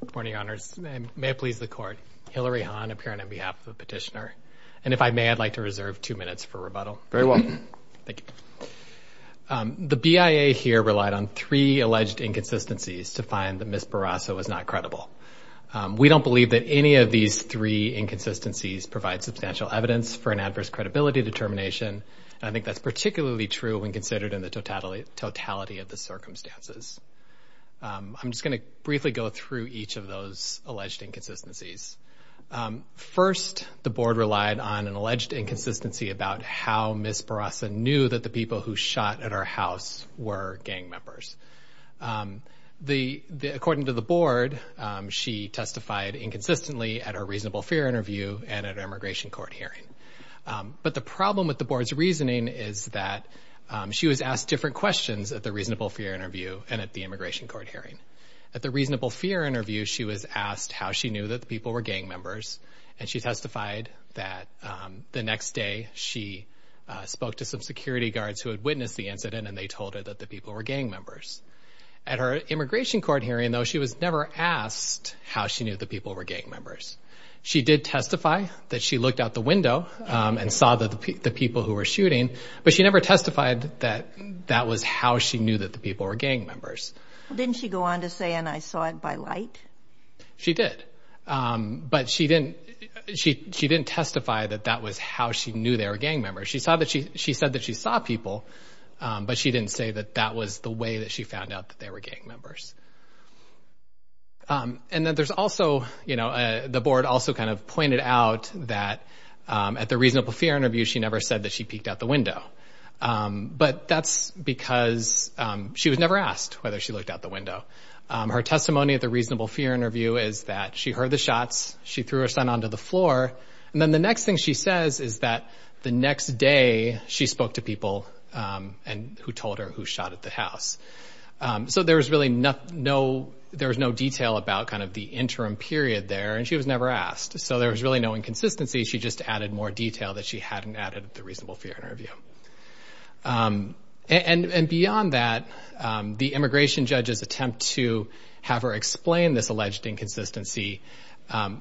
Good morning, Your Honors. May it please the Court, Hillary Hahn appearing on behalf of the petitioner. And if I may, I'd like to reserve two minutes for rebuttal. Very well. Thank you. The BIA here relied on three alleged inconsistencies to find that Ms. Barraza was not credible. We don't believe that any of these three inconsistencies provide substantial evidence for an adverse credibility determination, and I think that's particularly true when considered in the totality of the circumstances. I'm just going to briefly go through each of those alleged inconsistencies. First, the Board relied on an alleged inconsistency about how Ms. Barraza knew that the people who shot at her house were gang members. According to the Board, she testified inconsistently at her reasonable fear interview and at an immigration court hearing. But the problem with the Board's reasoning is that she was asked different questions at the reasonable fear interview and at the immigration court hearing. At the reasonable fear interview, she was asked how she knew that the people were gang members, and she testified that the next day she spoke to some security guards who had witnessed the incident and they told her that the people were gang members. At her immigration court hearing, though, she was never asked how she knew the people were gang members. She did testify that she looked out the window and saw the people who were shooting, but she never testified that that was how she knew that the people were gang members. Didn't she go on to say, and I saw it by light? She did, but she didn't testify that that was how she knew they were gang members. She said that she saw people, but she didn't say that that was the way that she found out that they were gang members. And then there's also, you know, the board also kind of pointed out that at the reasonable fear interview, she never said that she peeked out the window, but that's because she was never asked whether she looked out the window. Her testimony at the reasonable fear interview is that she heard the shots, she threw her son onto the floor, and then the next thing she says is that the next day she spoke to people who told her who shot at the house. So there was really no detail about kind of the interim period there, and she was never asked. So there was really no inconsistency. She just added more detail that she hadn't added at the reasonable fear interview. And beyond that, the immigration judge's attempt to have her explain this alleged inconsistency,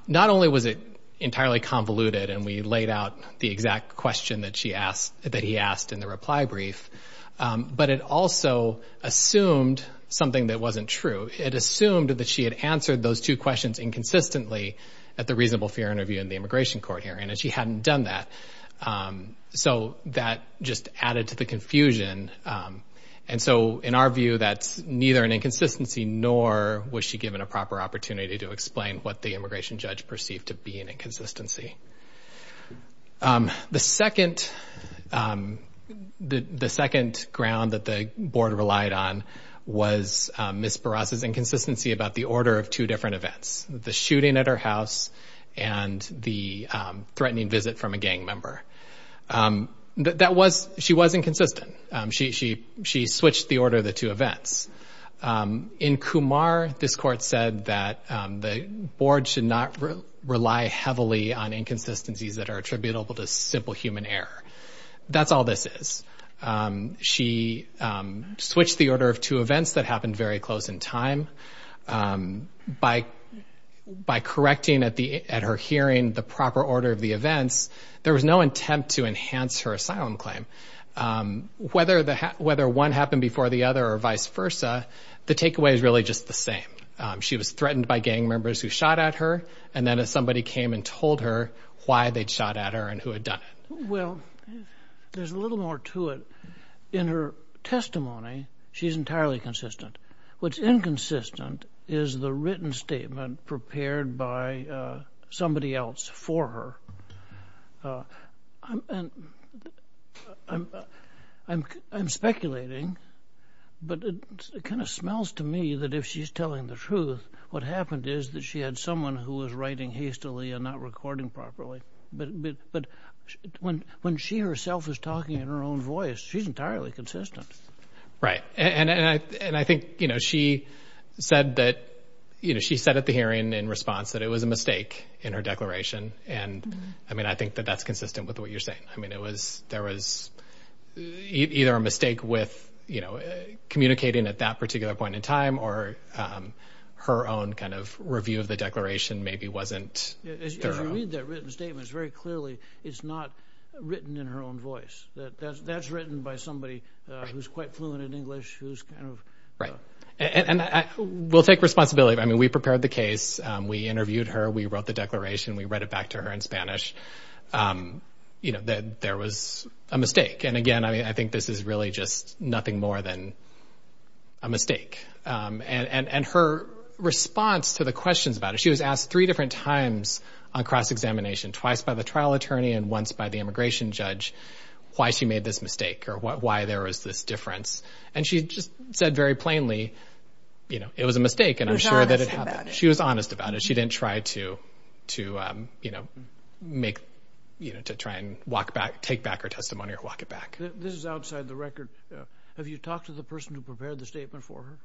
not only was it entirely convoluted, and we laid out the exact question that he asked in the reply brief, but it also assumed something that wasn't true. It assumed that she had answered those two questions inconsistently at the reasonable fear interview in the immigration court hearing, and she hadn't done that. So that just added to the confusion. And so in our view, that's neither an inconsistency nor was she given a proper opportunity to explain what the immigration judge perceived to be an inconsistency. The second... the second ground that the board relied on was Ms. Barras' inconsistency about the order of two different events, the shooting at her house and the threatening visit from a gang member. That was... she was inconsistent. She switched the order of the two events. In Kumar, this court said that the board should not rely heavily on inconsistencies that are attributable to simple human error. That's all this is. She switched the order of two events that happened very close in time. By correcting at her hearing the proper order of the events, there was no attempt to enhance her asylum claim. Whether one happened before the other or vice versa, the takeaway is really just the same. She was threatened by gang members who shot at her, and then somebody came and told her why they'd shot at her and who had done it. Well, there's a little more to it. In her testimony, she's entirely consistent. What's inconsistent is the written statement prepared by somebody else for her. I'm speculating, but it kind of smells to me that if she's telling the truth, what happened is that she had someone who was writing hastily and not recording properly. But when she herself is talking in her own voice, she's entirely consistent. Right, and I think, you know, she said that, you know, she said at the hearing in response that it was a mistake in her declaration, and I mean, I think that that's consistent with what you're saying. I mean, there was either a mistake with, you know, communicating at that particular point in time or her own kind of review of the declaration maybe wasn't thorough. As you read that written statement, it's very clearly it's not written in her own voice. That's written by somebody who's quite fluent in English, who's kind of... Right, and we'll take responsibility. I mean, we prepared the case, we interviewed her, we wrote the declaration, we read it back to her in Spanish, you know, that there was a mistake. And again, I think this is really just nothing more than a mistake. And her response to the questions about it, she was asked three different times on cross-examination, twice by the trial attorney and once by the immigration judge, why she made this mistake or why there was this difference. And she just said very plainly, you know, it was a mistake and I'm sure that it happened. She was honest about it. She didn't try to, you know, make, you know, to try and walk back, take back her testimony or walk it back. This is outside the record. Have you talked to the person who prepared the statement for her?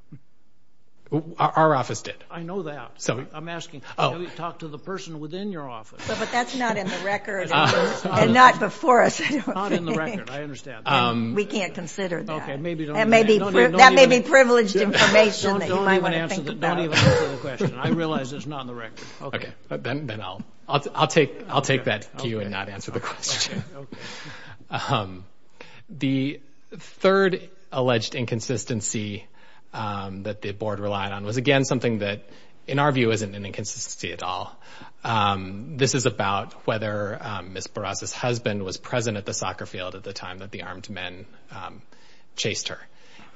Our office did. I know that. I'm asking, have you talked to the person within your office? But that's not in the record and not before us. It's not in the record, I understand. We can't consider that. That may be privileged information that you might want to think about. Don't even answer the question. I realize it's not in the record. Then I'll take that to you and not answer the question. The third alleged inconsistency that the board relied on was again something that in our view isn't an inconsistency at all. This is about whether Ms. Barras' husband was present at the soccer field at the time that the armed men chased her.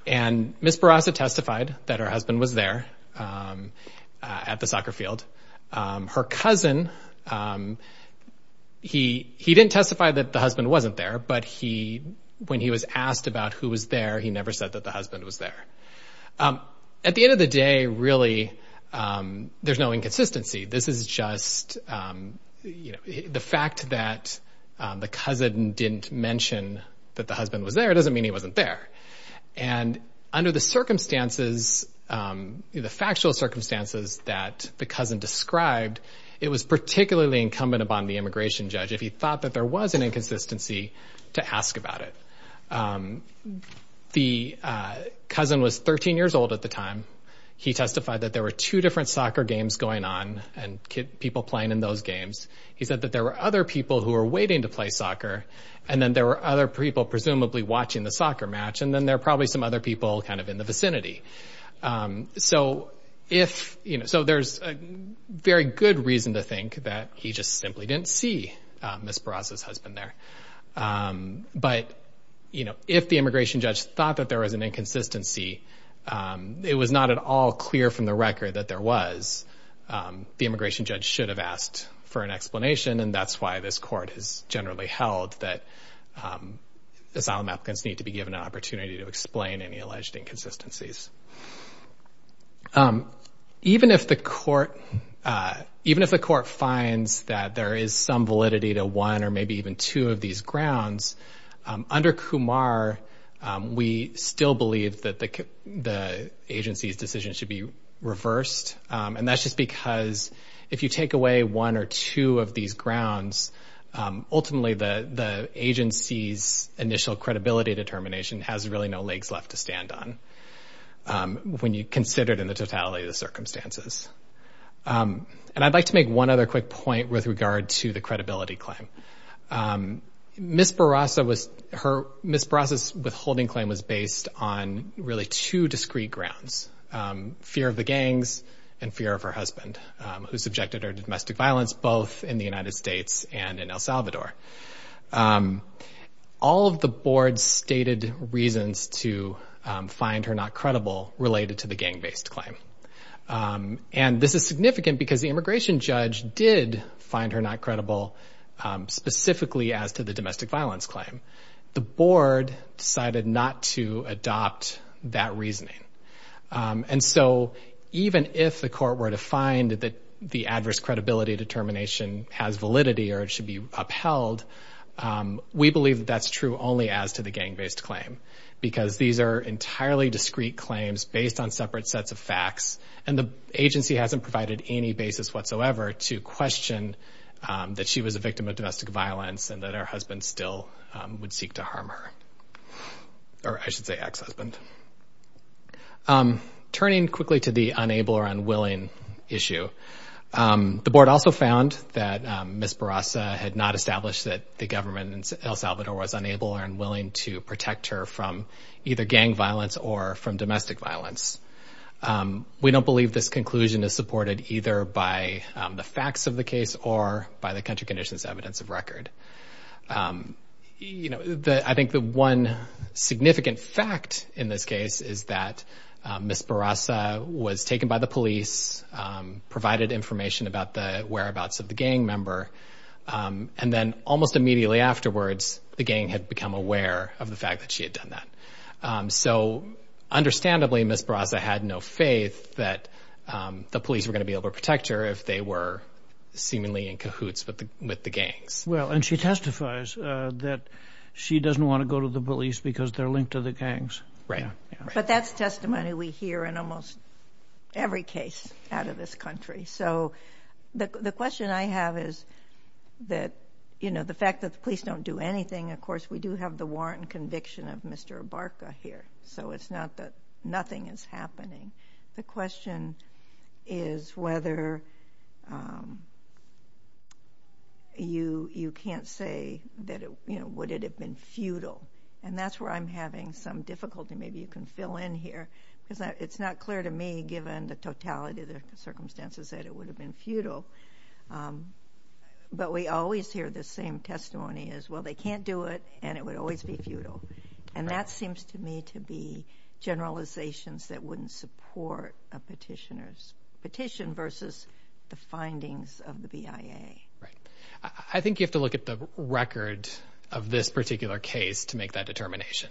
And Ms. Barras had testified that her husband was there at the soccer field. Her cousin, he didn't testify that the husband wasn't there, but when he was asked about who was there, he never said that the husband was there. At the end of the day, really, there's no inconsistency. This is just, you know, the fact that the cousin didn't mention that the husband was there doesn't mean he wasn't there. And under the circumstances, the factual circumstances that the cousin described, it was particularly incumbent upon the immigration judge if he thought that there was an inconsistency to ask about it. The cousin was 13 years old at the time. He testified that there were two different soccer games going on and people playing in those games. He said that there were other people who were waiting to play soccer and then there were other people presumably watching the soccer match and then there were probably some other people kind of in the vicinity. So there's a very good reason to think that he just simply didn't see Ms. Barras' husband there. But if the immigration judge thought that there was an inconsistency, it was not at all clear from the record that there was. The immigration judge should have asked for an explanation and that's why this court has generally held that asylum applicants need to be given an opportunity to explain any alleged inconsistencies. Even if the court finds that there is some validity to one or maybe even two of these grounds, under Kumar, we still believe that the agency's decision should be reversed and that's just because if you take away one or two of these grounds, ultimately the agency's initial credibility determination has really no legs left to stand on when you consider it in the totality of the circumstances. And I'd like to make one other quick point with regard to the credibility claim. Ms. Barras' withholding claim was based on really two discrete grounds. Fear of the gangs and fear of her husband who subjected her to domestic violence both in the United States and in El Salvador. All of the board's stated reasons to find her not credible related to the gang-based claim. And this is significant because the immigration judge did find her not credible specifically as to the domestic violence claim. The board decided not to adopt that reasoning. And so even if the court were to find that the adverse credibility determination has validity or it should be upheld, we believe that that's true only as to the gang-based claim because these are entirely discrete claims based on separate sets of facts and the agency hasn't provided any basis whatsoever to question that she was a victim of domestic violence and that her husband still would seek to harm her. Or I should say ex-husband. Turning quickly to the unable or unwilling issue, the board also found that Ms. Barras had not established that the government in El Salvador was unable or unwilling to protect her from either gang violence or from domestic violence. We don't believe this conclusion is supported either by the facts of the case or by the country condition's evidence of record. You know, I think the one significant fact in this case is that Ms. Barras was taken by the police, provided information about the whereabouts of the gang member, and then almost immediately afterwards the gang had become aware of the fact that she had done that. So understandably, Ms. Barras had no faith that the police were going to be able to protect her if they were seemingly in cahoots with the gangs. Well, and she testifies that she doesn't want to go to the police because they're linked to the gangs. Right, but that's testimony we hear in almost every case out of this country. So the question I have is that, you know, the fact that the police don't do anything, of course we do have the warrant and conviction of Mr. Abarca here, so it's not that nothing is happening. The question is whether... You can't say, you know, would it have been futile? And that's where I'm having some difficulty. Maybe you can fill in here, because it's not clear to me, given the totality of the circumstances, that it would have been futile. But we always hear the same testimony as, well, they can't do it, and it would always be futile. And that seems to me to be generalizations that wouldn't support a petitioner's petition versus the findings of the BIA. Right. I think you have to look at the record of this particular case to make that determination.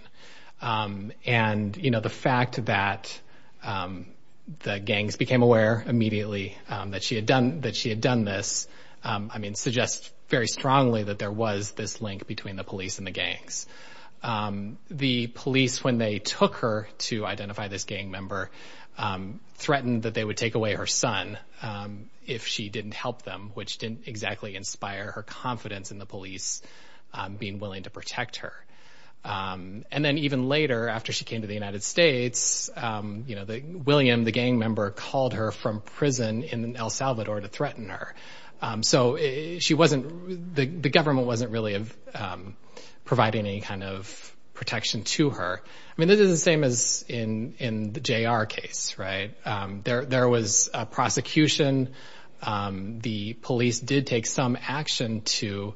And, you know, the fact that the gangs became aware immediately that she had done this, I mean, suggests very strongly that there was this link between the police and the gangs. The police, when they took her to identify this gang member, threatened that they would take away her son if she didn't help them, which didn't exactly inspire her confidence in the police being willing to protect her. And then even later, after she came to the United States, you know, William, the gang member, called her from prison in El Salvador to threaten her. So the government wasn't really providing any kind of protection to her. I mean, this is the same as in the J.R. case, right? There was a prosecution. The police did take some action to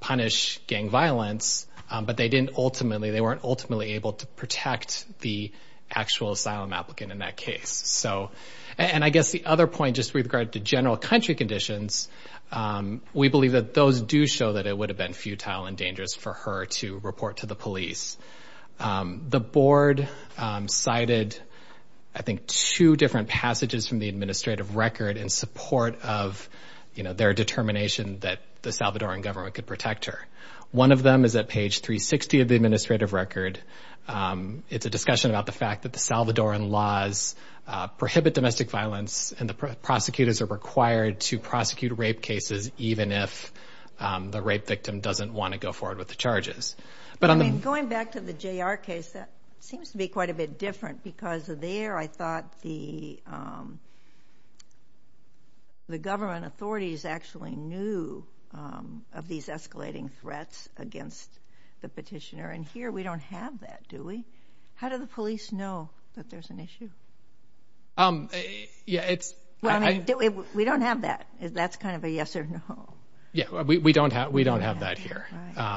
punish gang violence, but they weren't ultimately able to protect the actual asylum applicant in that case. And I guess the other point, just with regard to general country conditions, we believe that those do show that it would have been futile and dangerous for her to report to the police. The board cited, I think, two different passages from the administrative record in support of, you know, their determination that the Salvadoran government could protect her. One of them is at page 360 of the administrative record. It's a discussion about the fact that the Salvadoran laws prohibit domestic violence, and the prosecutors are required to prosecute rape cases even if the rape victim doesn't want to go forward with the charges. I mean, going back to the J.R. case, that seems to be quite a bit different because there I thought the government authorities actually knew of these escalating threats against the petitioner, and here we don't have that, do we? How do the police know that there's an issue? We don't have that. That's kind of a yes or no. Yeah, we don't have that here.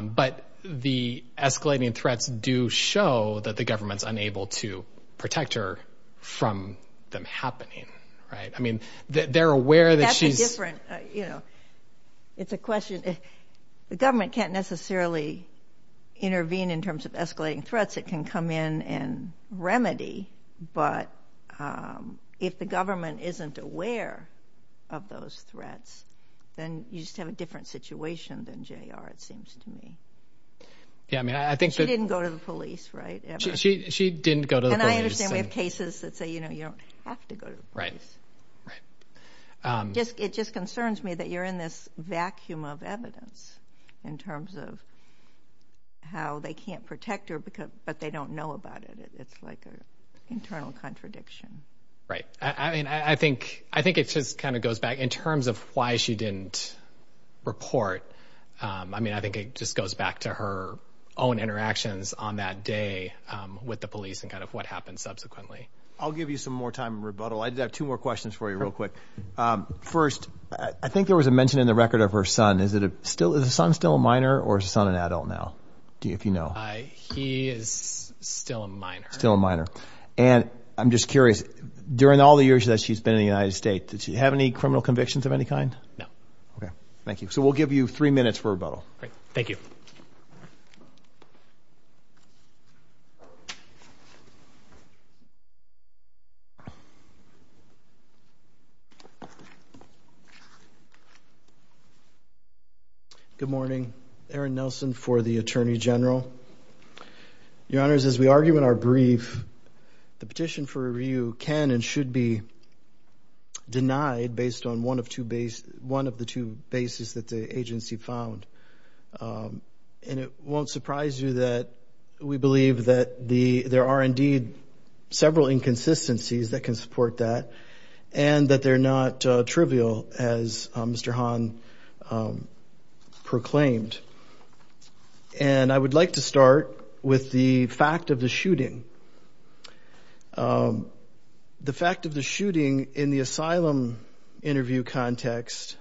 But the escalating threats do show that the government's unable to protect her from them happening, right? I mean, they're aware that she's... That's a different, you know, it's a question... The government can't necessarily intervene in terms of escalating threats. It can come in and remedy, but if the government isn't aware of those threats, then you just have a different situation than J.R., it seems to me. She didn't go to the police, right? She didn't go to the police. And I understand we have cases that say, you know, you don't have to go to the police. Right. It just concerns me that you're in this vacuum of evidence in terms of how they can't protect her but they don't know about it. It's like an internal contradiction. Right. I mean, I think it just kind of goes back... In terms of why she didn't report, I mean, I think it just goes back to her own interactions on that day with the police and kind of what happened subsequently. I'll give you some more time in rebuttal. I did have two more questions for you real quick. First, I think there was a mention in the record of her son. Is the son still a minor or is the son an adult now, if you know? He is still a minor. Still a minor. And I'm just curious, during all the years that she's been in the United States, did she have any criminal convictions of any kind? No. Okay. Thank you. So we'll give you three minutes for rebuttal. Great. Thank you. Good morning. Erin Nelson for the Attorney General. Your Honors, as we argue in our brief, the petition for review can and should be denied based on one of the two bases that the agency found. And it won't surprise you that we believe that there are indeed several inconsistencies that can support that and that they're not trivial, as Mr. Hahn proclaimed. And I would like to start with the fact of the shooting. The fact of the shooting, in the asylum interview context,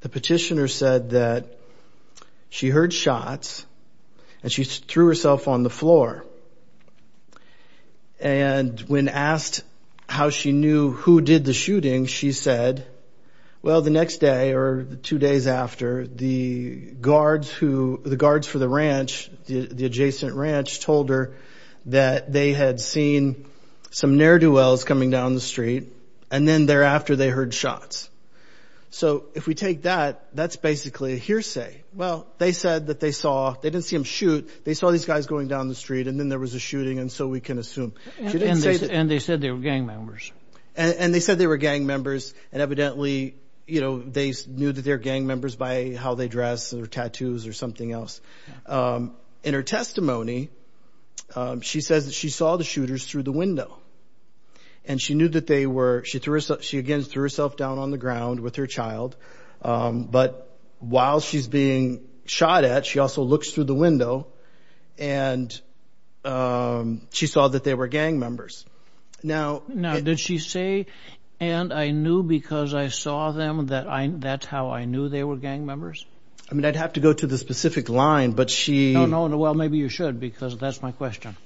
the petitioner said that she heard shots and she threw herself on the floor. And when asked how she knew who did the shooting, she said, well, the next day or two days after, the guards for the ranch, the adjacent ranch, told her that they had seen some ne'er-do-wells coming down the street and then thereafter they heard shots. So if we take that, that's basically a hearsay. Well, they said that they saw, they didn't see them shoot, they saw these guys going down the street and then there was a shooting and so we can assume. And they said they were gang members. And they said they were gang members and evidently, you know, they knew that they were gang members by how they dressed or tattoos or something else. In her testimony, she says that she saw the shooters through the window and she knew that they were, she again threw herself down on the ground with her child, but while she's being shot at, she also looks through the window and she saw that they were gang members. Now... Now, did she say, and I knew because I saw them that that's how I knew they were gang members? I mean, I'd have to go to the specific line, but she... No, no, well, maybe you should because that's my question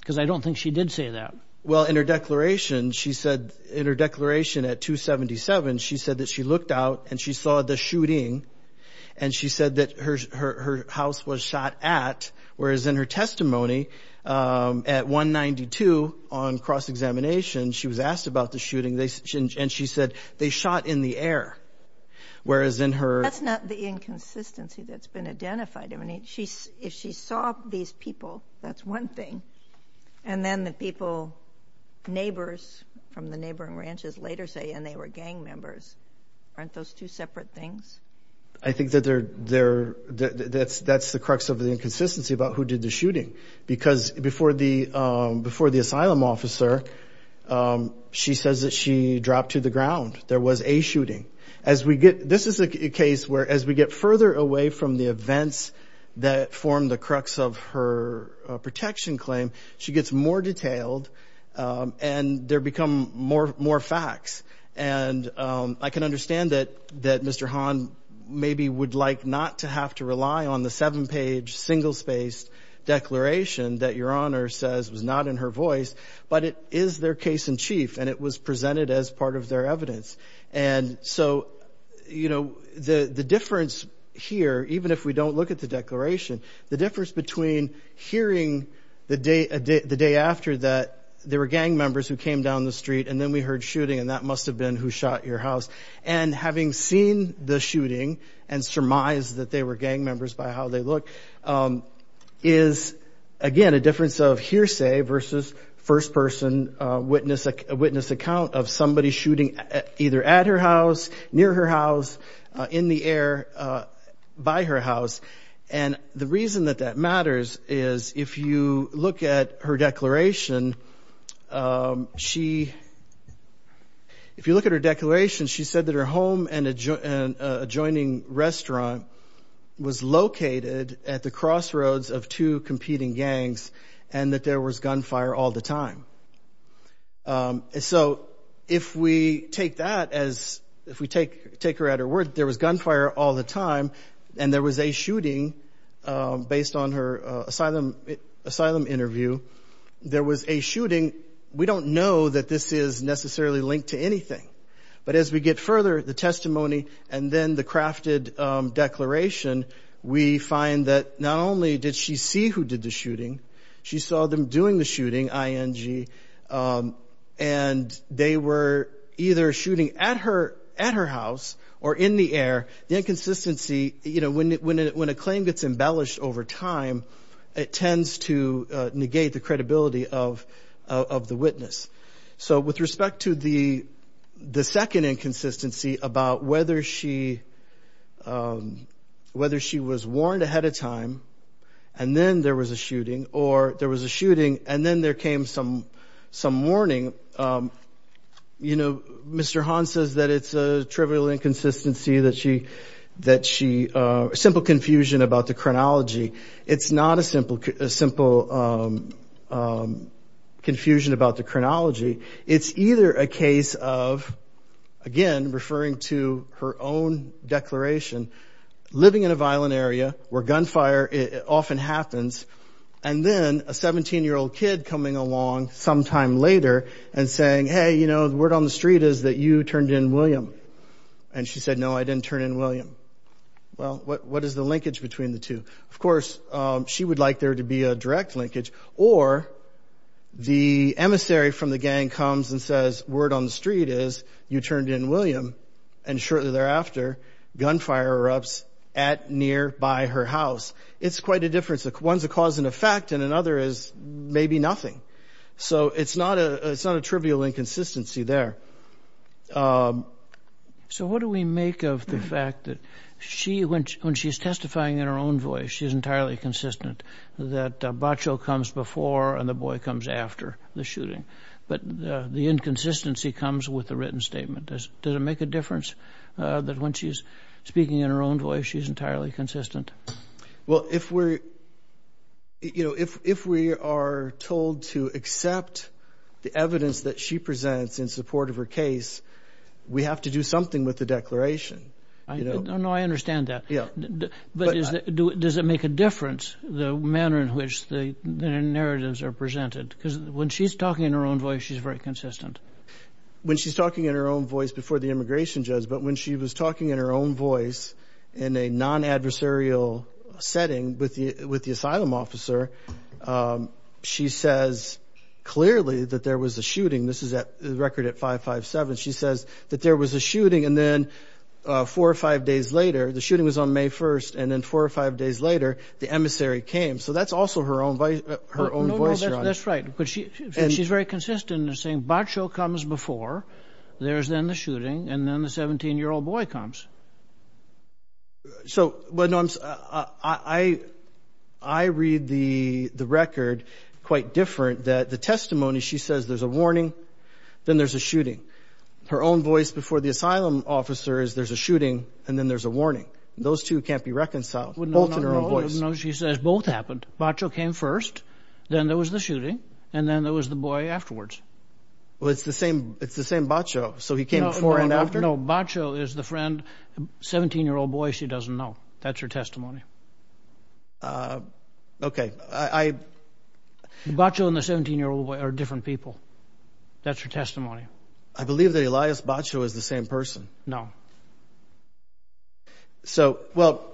because I don't think she did say that. Well, in her declaration, she said, in her declaration at 277, she said that she looked out and she saw the shooting and she said that her house was shot at, whereas in her testimony at 192 on cross-examination, she was asked about the shooting and she said they shot in the air, whereas in her... That's not the inconsistency that's been identified. I mean, if she saw these people, that's one thing, and then the people... Neighbors from the neighboring ranches later say, and they were gang members. Aren't those two separate things? I think that they're... That's the crux of the inconsistency about who did the shooting because before the asylum officer, she says that she dropped to the ground. There was a shooting. This is a case where as we get further away from the events that form the crux of her protection claim, she gets more detailed and there become more facts. And I can understand that Mr. Hahn maybe would like not to have to rely on the seven-page, single-spaced declaration that Your Honor says was not in her voice, but it is their case-in-chief and it was presented as part of their evidence. And so, you know, the difference here, even if we don't look at the declaration, the difference between hearing the day after that there were gang members who came down the street and then we heard shooting and that must have been who shot your house and having seen the shooting and surmised that they were gang members by how they looked is, again, a difference of hearsay versus first-person witness account of somebody shooting either at her house, near her house, in the air, by her house. And the reason that that matters is if you look at her declaration, if you look at her declaration, she said that her home and adjoining restaurant was located at the crossroads of two competing gangs and that there was gunfire all the time. So if we take that as, if we take her at her word, there was gunfire all the time and there was a shooting based on her asylum interview. There was a shooting. We don't know that this is necessarily linked to anything, but as we get further, the testimony and then the crafted declaration, we find that not only did she see who did the shooting, she saw them doing the shooting, ING, and they were either shooting at her house or in the air. The inconsistency, when a claim gets embellished over time, it tends to negate the credibility of the witness. So with respect to the second inconsistency about whether she was warned ahead of time and then there was a shooting or there was a shooting and then there came some warning, you know, Mr. Hahn says that it's a trivial inconsistency that she, that she, a simple confusion about the chronology. It's not a simple confusion about the chronology. It's either a case of, again, referring to her own declaration, living in a violent area where gunfire often happens and then a 17-year-old kid coming along sometime later and saying, hey, you know, the word on the street is that you turned in William. And she said, no, I didn't turn in William. Well, what is the linkage between the two? Of course, she would like there to be a direct linkage or the emissary from the gang comes and says, word on the street is you turned in William and shortly thereafter, gunfire erupts at one's a cause and effect and another is maybe nothing. So it's not a trivial inconsistency there. So what do we make of the fact that she, when she's testifying in her own voice, she's entirely consistent that Bacho comes before and the boy comes after the shooting, but the inconsistency comes with the written statement. Does it make a difference that when she's speaking in her own voice, she's entirely consistent? Well, if we're, you know, if we are told to accept the evidence that she presents in support of her case, we have to do something with the declaration. No, I understand that. But does it make a difference the manner in which the narratives are presented? Because when she's talking in her own voice, she's very consistent. When she's talking in her own voice before the immigration judge, but when she was talking in her own voice in a non-adversarial setting with the asylum officer, she says clearly that there was a shooting. This is a record at 557. She says that there was a shooting and then four or five days later, the shooting was on May 1st, and then four or five days later, the emissary came. So that's also her own voice. No, no, that's right. She's very consistent in saying Bacho comes before, there's then the shooting, and then the 17-year-old boy comes. So, I read the record quite different, that the testimony she says there's a warning, then there's a shooting. Her own voice before the asylum officer is there's a shooting, and then there's a warning. Those two can't be reconciled. Both in her own voice. No, she says both happened. Bacho came first, then there was the shooting, and then there was the boy afterwards. Well, it's the same Bacho, so he came before and after? No, Bacho is the friend, 17-year-old boy, she doesn't know. That's her testimony. Okay. Bacho and the 17-year-old boy are different people. That's her testimony. I believe that Elias Bacho is the same person. No. So, well,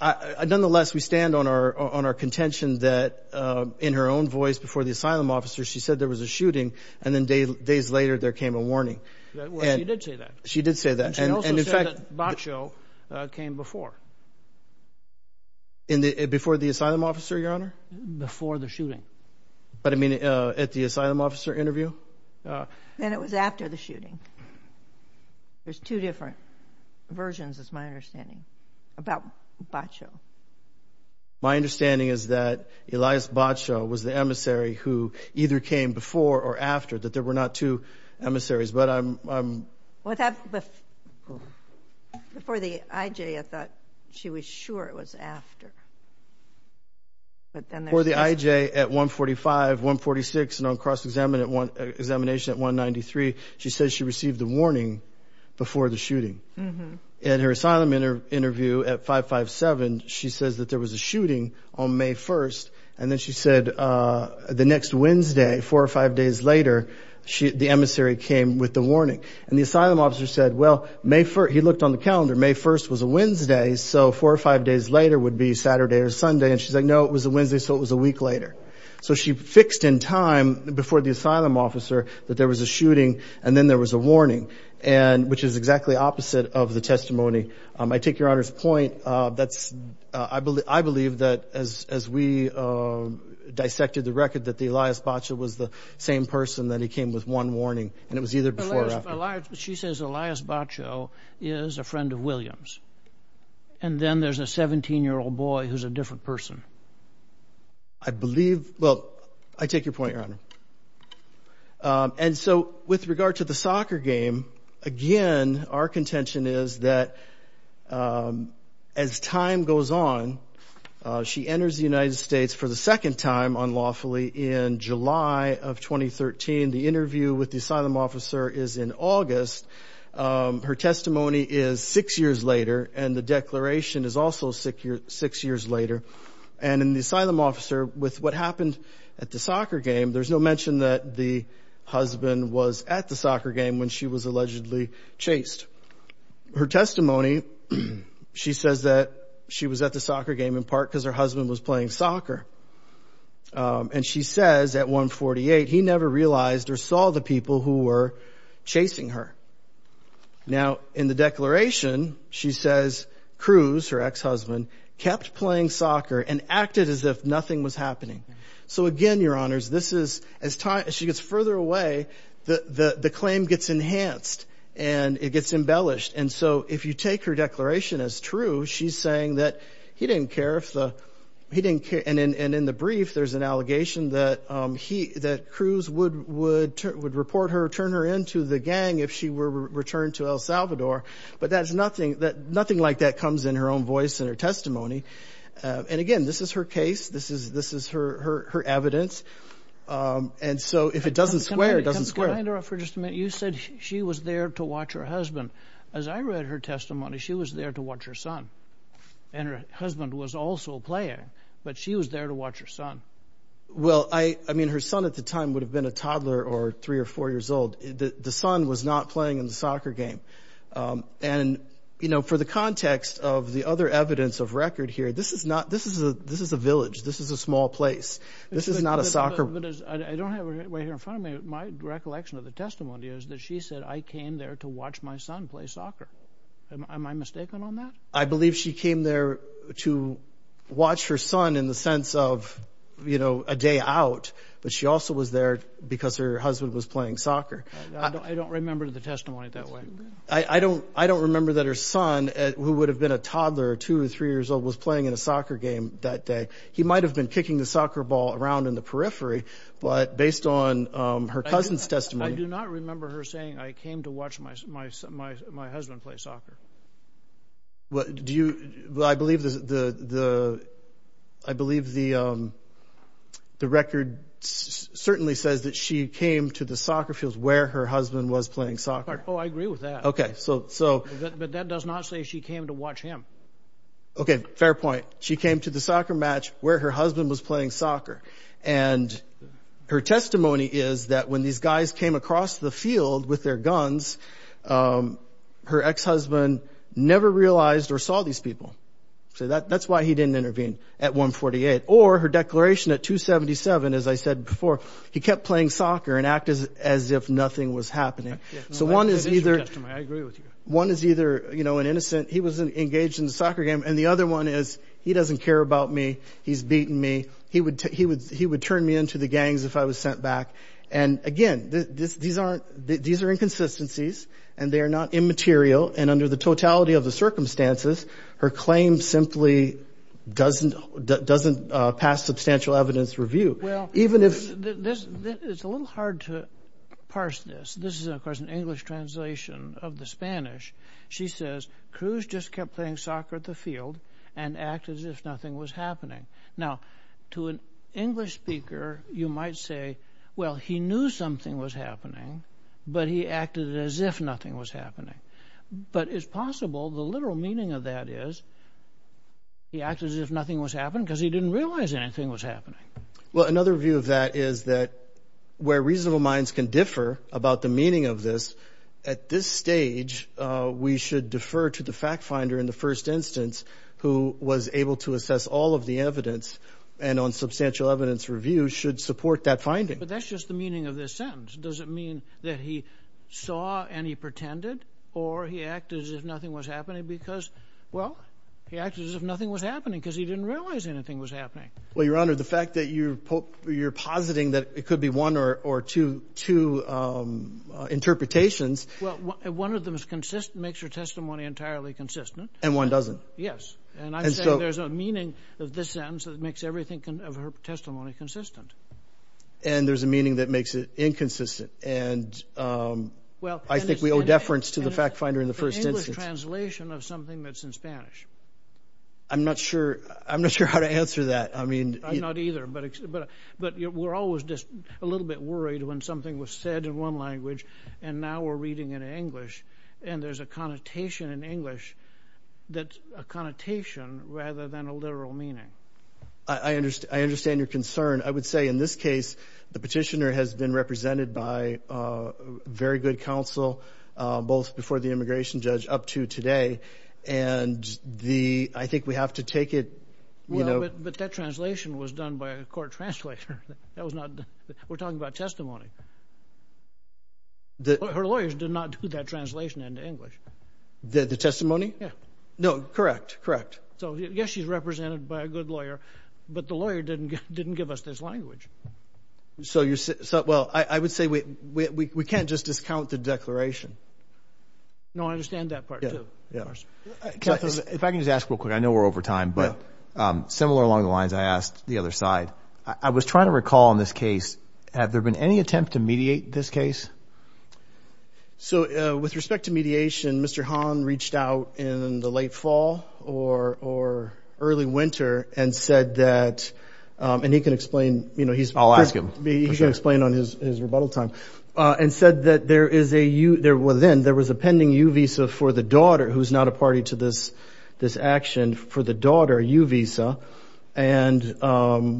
nonetheless, we stand on our contention that in her own voice before the asylum officer, she said there was a shooting, and then days later there came a warning. Well, she did say that. She did say that. And she also said that Bacho came before. Before the asylum officer, Your Honor? Before the shooting. But, I mean, at the asylum officer interview? Then it was after the shooting. There's two different versions, is my understanding, about Bacho. My understanding is that Elias Bacho was the emissary who either came before or after, that there were not two emissaries. Before the IJ, I thought she was sure it was after. Before the IJ at 145, 146, and on cross-examination at 193, she said she received the warning before the shooting. In her asylum interview at 557, she says that there was a shooting on May 1st, and then she said the next Wednesday, four or five days later, the emissary came with the warning. And the asylum officer said, well, he looked on the calendar. May 1st was a Wednesday, so four or five days later would be Saturday or Sunday. And she's like, no, it was a Wednesday, so it was a week later. So she fixed in time before the asylum officer that there was a shooting, and then there was a warning, which is exactly opposite of the testimony. I take Your Honor's point. I believe that as we dissected the record, that Elias Bacho was the same person, that he came with one warning, and it was either before or after. She says Elias Bacho is a friend of Williams. And then there's a 17-year-old boy who's a different person. I believe, well, I take your point, Your Honor. And so with regard to the soccer game, again, our contention is that as time goes on, she enters the United States for the second time unlawfully in July of 2013. The interview with the asylum officer is in August. Her testimony is six years later, and the declaration is also six years later. And in the asylum officer, with what happened at the soccer game, there's no mention that the husband was at the soccer game when she was allegedly chased. Her testimony, she says that she was at the soccer game in part because her husband was playing soccer. And she says at 148, he never realized or saw the people who were chasing her. Now, in the declaration, she says Cruz, her ex-husband, kept playing soccer and acted as if nothing was happening. So again, Your Honors, as she gets further away, the claim gets enhanced and it gets embellished. And so if you take her declaration as true, she's saying that he didn't care if the he didn't care. And in the brief, there's an allegation that Cruz would report her, turn her into the gang if she were returned to El Salvador. But nothing like that Again, this is her case. This is her evidence. And so if it doesn't square, it doesn't square. Can I interrupt for just a minute? You said she was there to watch her husband. As I read her testimony, she was there to watch her son. And her husband was also playing. But she was there to watch her son. Well, I mean, her son at the time would have been a toddler or three or four years old. The son was not playing in the soccer game. And, you know, for the context of the other evidence of record here, this is not this is a village. This is a small place. This is not a soccer I don't have it right here in front of me. My recollection of the testimony is that she said, I came there to watch my son play soccer. Am I mistaken on that? I believe she came there to watch her son in the sense of, you know, a day out. But she also was there because her husband was playing soccer. I don't remember the testimony that way. I don't I don't remember that her son, who would have been a toddler or two or three years old, was playing in a soccer game that day. He might have been kicking the soccer ball around in the periphery. But based on her cousin's testimony, I do not remember her saying I came to watch my my my husband play soccer. Do you I believe the I believe the the record certainly says that she came to the soccer Oh, I agree with that. OK, so. But that does not say she came to watch him. OK, fair point. She came to the soccer match where her husband was playing soccer. And her testimony is that when these guys came across the field with their guns, her ex-husband never realized or saw these people. So that that's why he didn't intervene at 148 or her declaration at 277. As I said before, he kept playing soccer and act as as if nothing was happening. So one is either I agree with you. One is either, you know, an innocent he was engaged in the soccer game. And the other one is he doesn't care about me. He's beaten me. He would he would he would turn me into the gangs if I was sent back. And again, these aren't these are inconsistencies and they are not immaterial. And under the totality of the circumstances, her claim simply doesn't doesn't pass substantial evidence review. Well, even if this it's a little hard to parse this. This is, of course, an English translation of the Spanish. She says Cruz just kept playing soccer at the field and act as if nothing was happening. Now, to an English speaker, you might say, well, he knew something was happening, but he acted as if nothing was happening. But it's possible the literal meaning of that is. He acted as if nothing was happening because he didn't realize anything was happening. Well, another view of that is that where reasonable minds can differ about the meaning of this at this stage, we should defer to the fact finder in the first instance who was able to assess all of the evidence and on substantial evidence review should support that finding. But that's just the meaning of this sentence. Does it mean that he saw any pretended or he acted as if nothing was happening because, well, he acted as if nothing was happening because he didn't realize anything was happening? Well, Your Honor, the fact that you you're positing that it could be one or two two interpretations. Well, one of them is consistent, makes your testimony entirely consistent and one doesn't. Yes. And so there's a meaning of this sentence that makes everything of her testimony consistent. And there's a meaning that makes it inconsistent. And well, I think we something that's in Spanish. I'm not sure I'm not sure how to answer that. I mean, I'm not either. But but but we're always just a little bit worried when something was said in one language and now we're reading in English and there's a connotation in English that connotation rather than a literal meaning. I understand. I understand your concern. I would say in this case, the petitioner has been represented by very good counsel both before the immigration judge up to today and the I think we have to take it you know. But that translation was done by a court translator. That was not we're talking about testimony. Her lawyers did not do that translation into English. The testimony? Yeah. No, correct. Correct. So yes, she's represented by a good lawyer, but the lawyer didn't didn't give us this language. So you're so well, I know we're over time, but similar along the lines I asked the other side I was trying to recall in this case. Have there been any attempt to mediate this case? So with respect to mediation, Mr. Hahn reached out in the late fall or or early winter and said that and he can explain, you know, he's I'll ask him to explain on his rebuttal time and said that there is a there was then there was a pending you visa for the daughter who's not a party to this this action for the daughter you visa and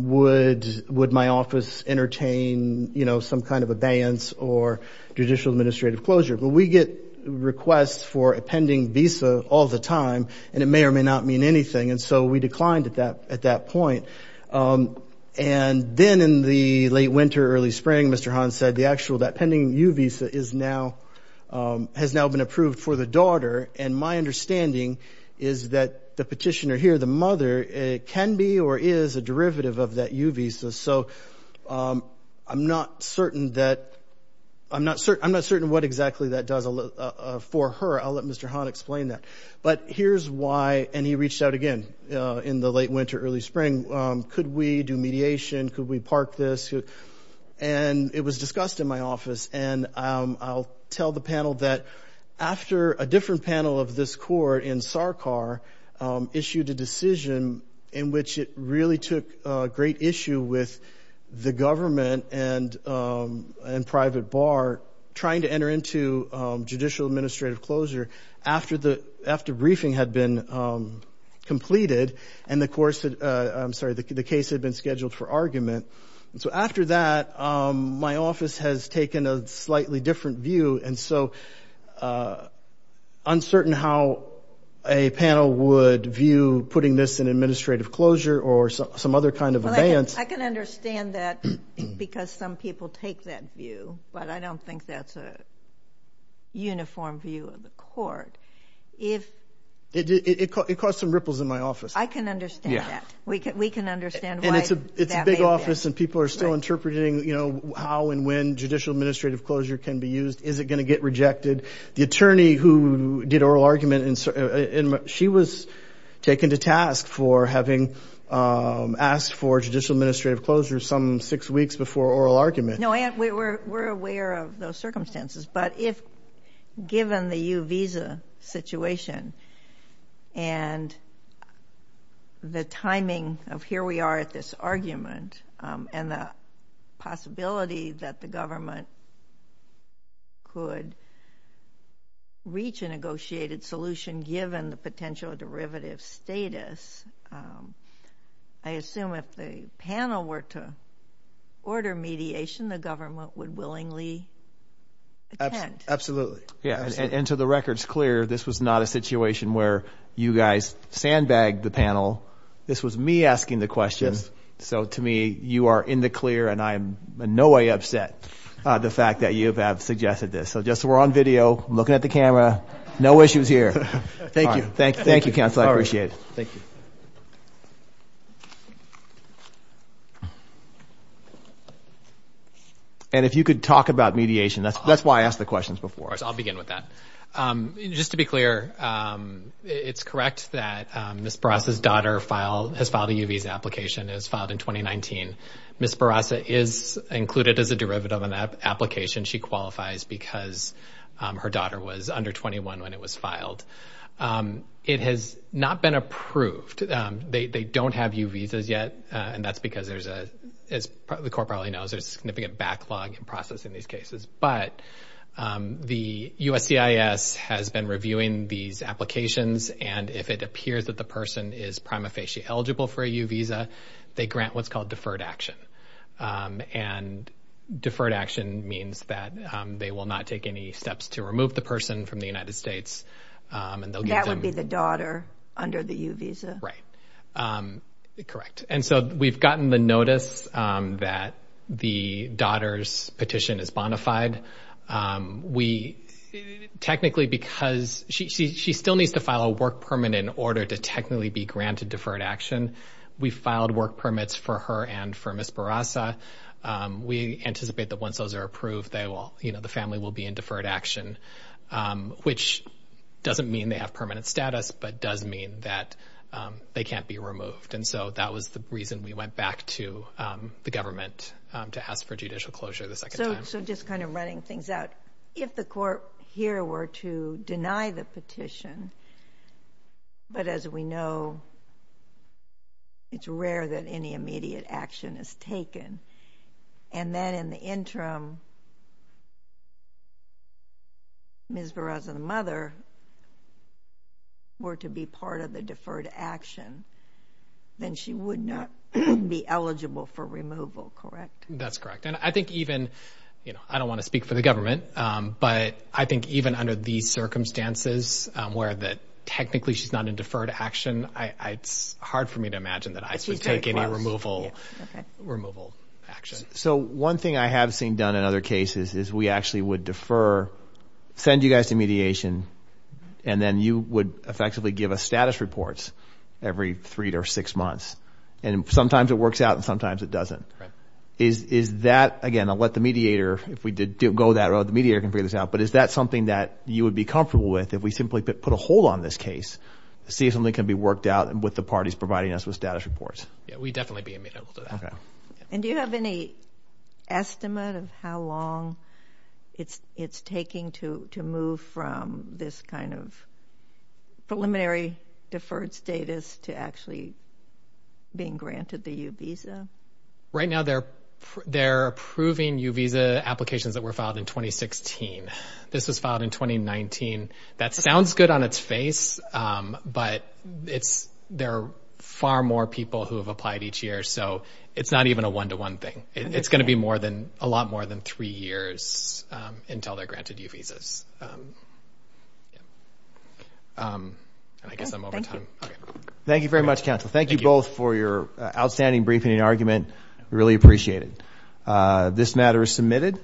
would would my office entertain, you know, some kind of abeyance or judicial administrative closure but we get requests for a pending visa all the time and it may or may not mean anything. And so we declined at that at that point and then in the late winter early spring, Mr. Hahn said the actual that pending you visa is now has now been approved for the daughter and my understanding is that the petitioner here the mother can be or is a derivative of that you visa. So I'm not certain that I'm not certain I'm not certain what exactly that does for her. I'll let Mr. Hahn explain that but here's why and he reached out again in the late winter early spring. Could we do mediation? Could we park this? And it was discussed in my office and I'll tell the panel that after a different panel of this court in SARCAR issued a decision in which it really took great issue with the government and private bar trying to enter into judicial administrative closure after the after briefing had been completed and the course I'm sorry the case had been scheduled for argument and so after that my office has taken a slightly different view and so uncertain how a panel would view putting this in administrative closure or some other kind of advance. I can understand that because some people take that view but I don't think that's a uniform view of the court. If it caused some ripples in my office. I can understand that. We can understand why. And it's a big office and people are still interpreting you know how and when judicial administrative closure can be used. Is it going to get rejected? The attorney who did oral argument she was taken to task for having asked for judicial administrative closure some six weeks before oral argument. No we're aware of those circumstances but if and the timing of here we are at this argument and the possibility that the government could reach a negotiated solution given the potential derivative status I assume if the panel were to order mediation the government would willingly attend. Absolutely. And to the point where you guys sandbagged the panel this was me asking the question. So to me you are in the clear and I am in no way upset the fact that you have suggested this. So just we're on video looking at the camera. No issues here. Thank you. Thank you counsel. I appreciate it. And if you could talk about mediation that's why I asked the questions before. I'll begin with that. Just to be clear it's correct that Ms. Barasa's daughter has filed a U visa application. It was filed in 2019. Ms. Barasa is included as a derivative of an application she qualifies because her daughter was under 21 when it was filed. It has not been approved. They don't have U visas yet and that's because there's a as the court probably knows there's significant backlog in processing these cases. But the USCIS has been reviewing these applications and if it appears that the person is prima facie eligible for a U visa they grant what's called deferred action. And deferred action means that they will not take any steps to remove the person from the United States. And that would be the daughter under the U visa. Right. Correct. And so we've gotten the notice that the daughter's petition is technically because she still needs to file a work permit in order to technically be granted deferred action. We filed work permits for her and for Ms. Barasa. We anticipate that once those are approved they will you know the family will be in deferred action which doesn't mean they have permanent status but does mean that they can't be removed. And so that was the reason we went back to the government to ask for judicial closure the second time. So just kind of running things out. If the court here were to deny the petition but as we know it's rare that any immediate action is taken and then in the interim Ms. Barasa's mother were to be part of the deferred action then she would not be eligible for removal. Correct. That's correct. And I think even I don't want to speak for the government but I think even under these circumstances where technically she's not in deferred action it's hard for me to imagine that I should take any removal action. So one thing I have seen done in other cases is we actually would defer send you guys to mediation and then you would effectively give us status reports every three to six months and sometimes it works out and sometimes it doesn't. Is that, again I'll let the mediator go that route, the mediator can figure this out, but is that something that you would be comfortable with if we simply put a hold on this case to see if something can be worked out with the parties providing us with status reports? Yeah, we'd definitely be amenable to that. And do you have any estimate of how long it's taking to move from this kind of preliminary deferred status to actually being granted the U-Visa? Right now they're approving U-Visa applications that were filed in 2016. This was filed in 2019. That sounds good on its face but there are far more people who have applied each year so it's not even a one-to-one thing. It's going to be a lot more than three years until they're granted U-Visas. I guess I'm over time. Thank you very much, counsel. Thank you both for your outstanding briefing and argument. We really appreciate it. This matter is submitted.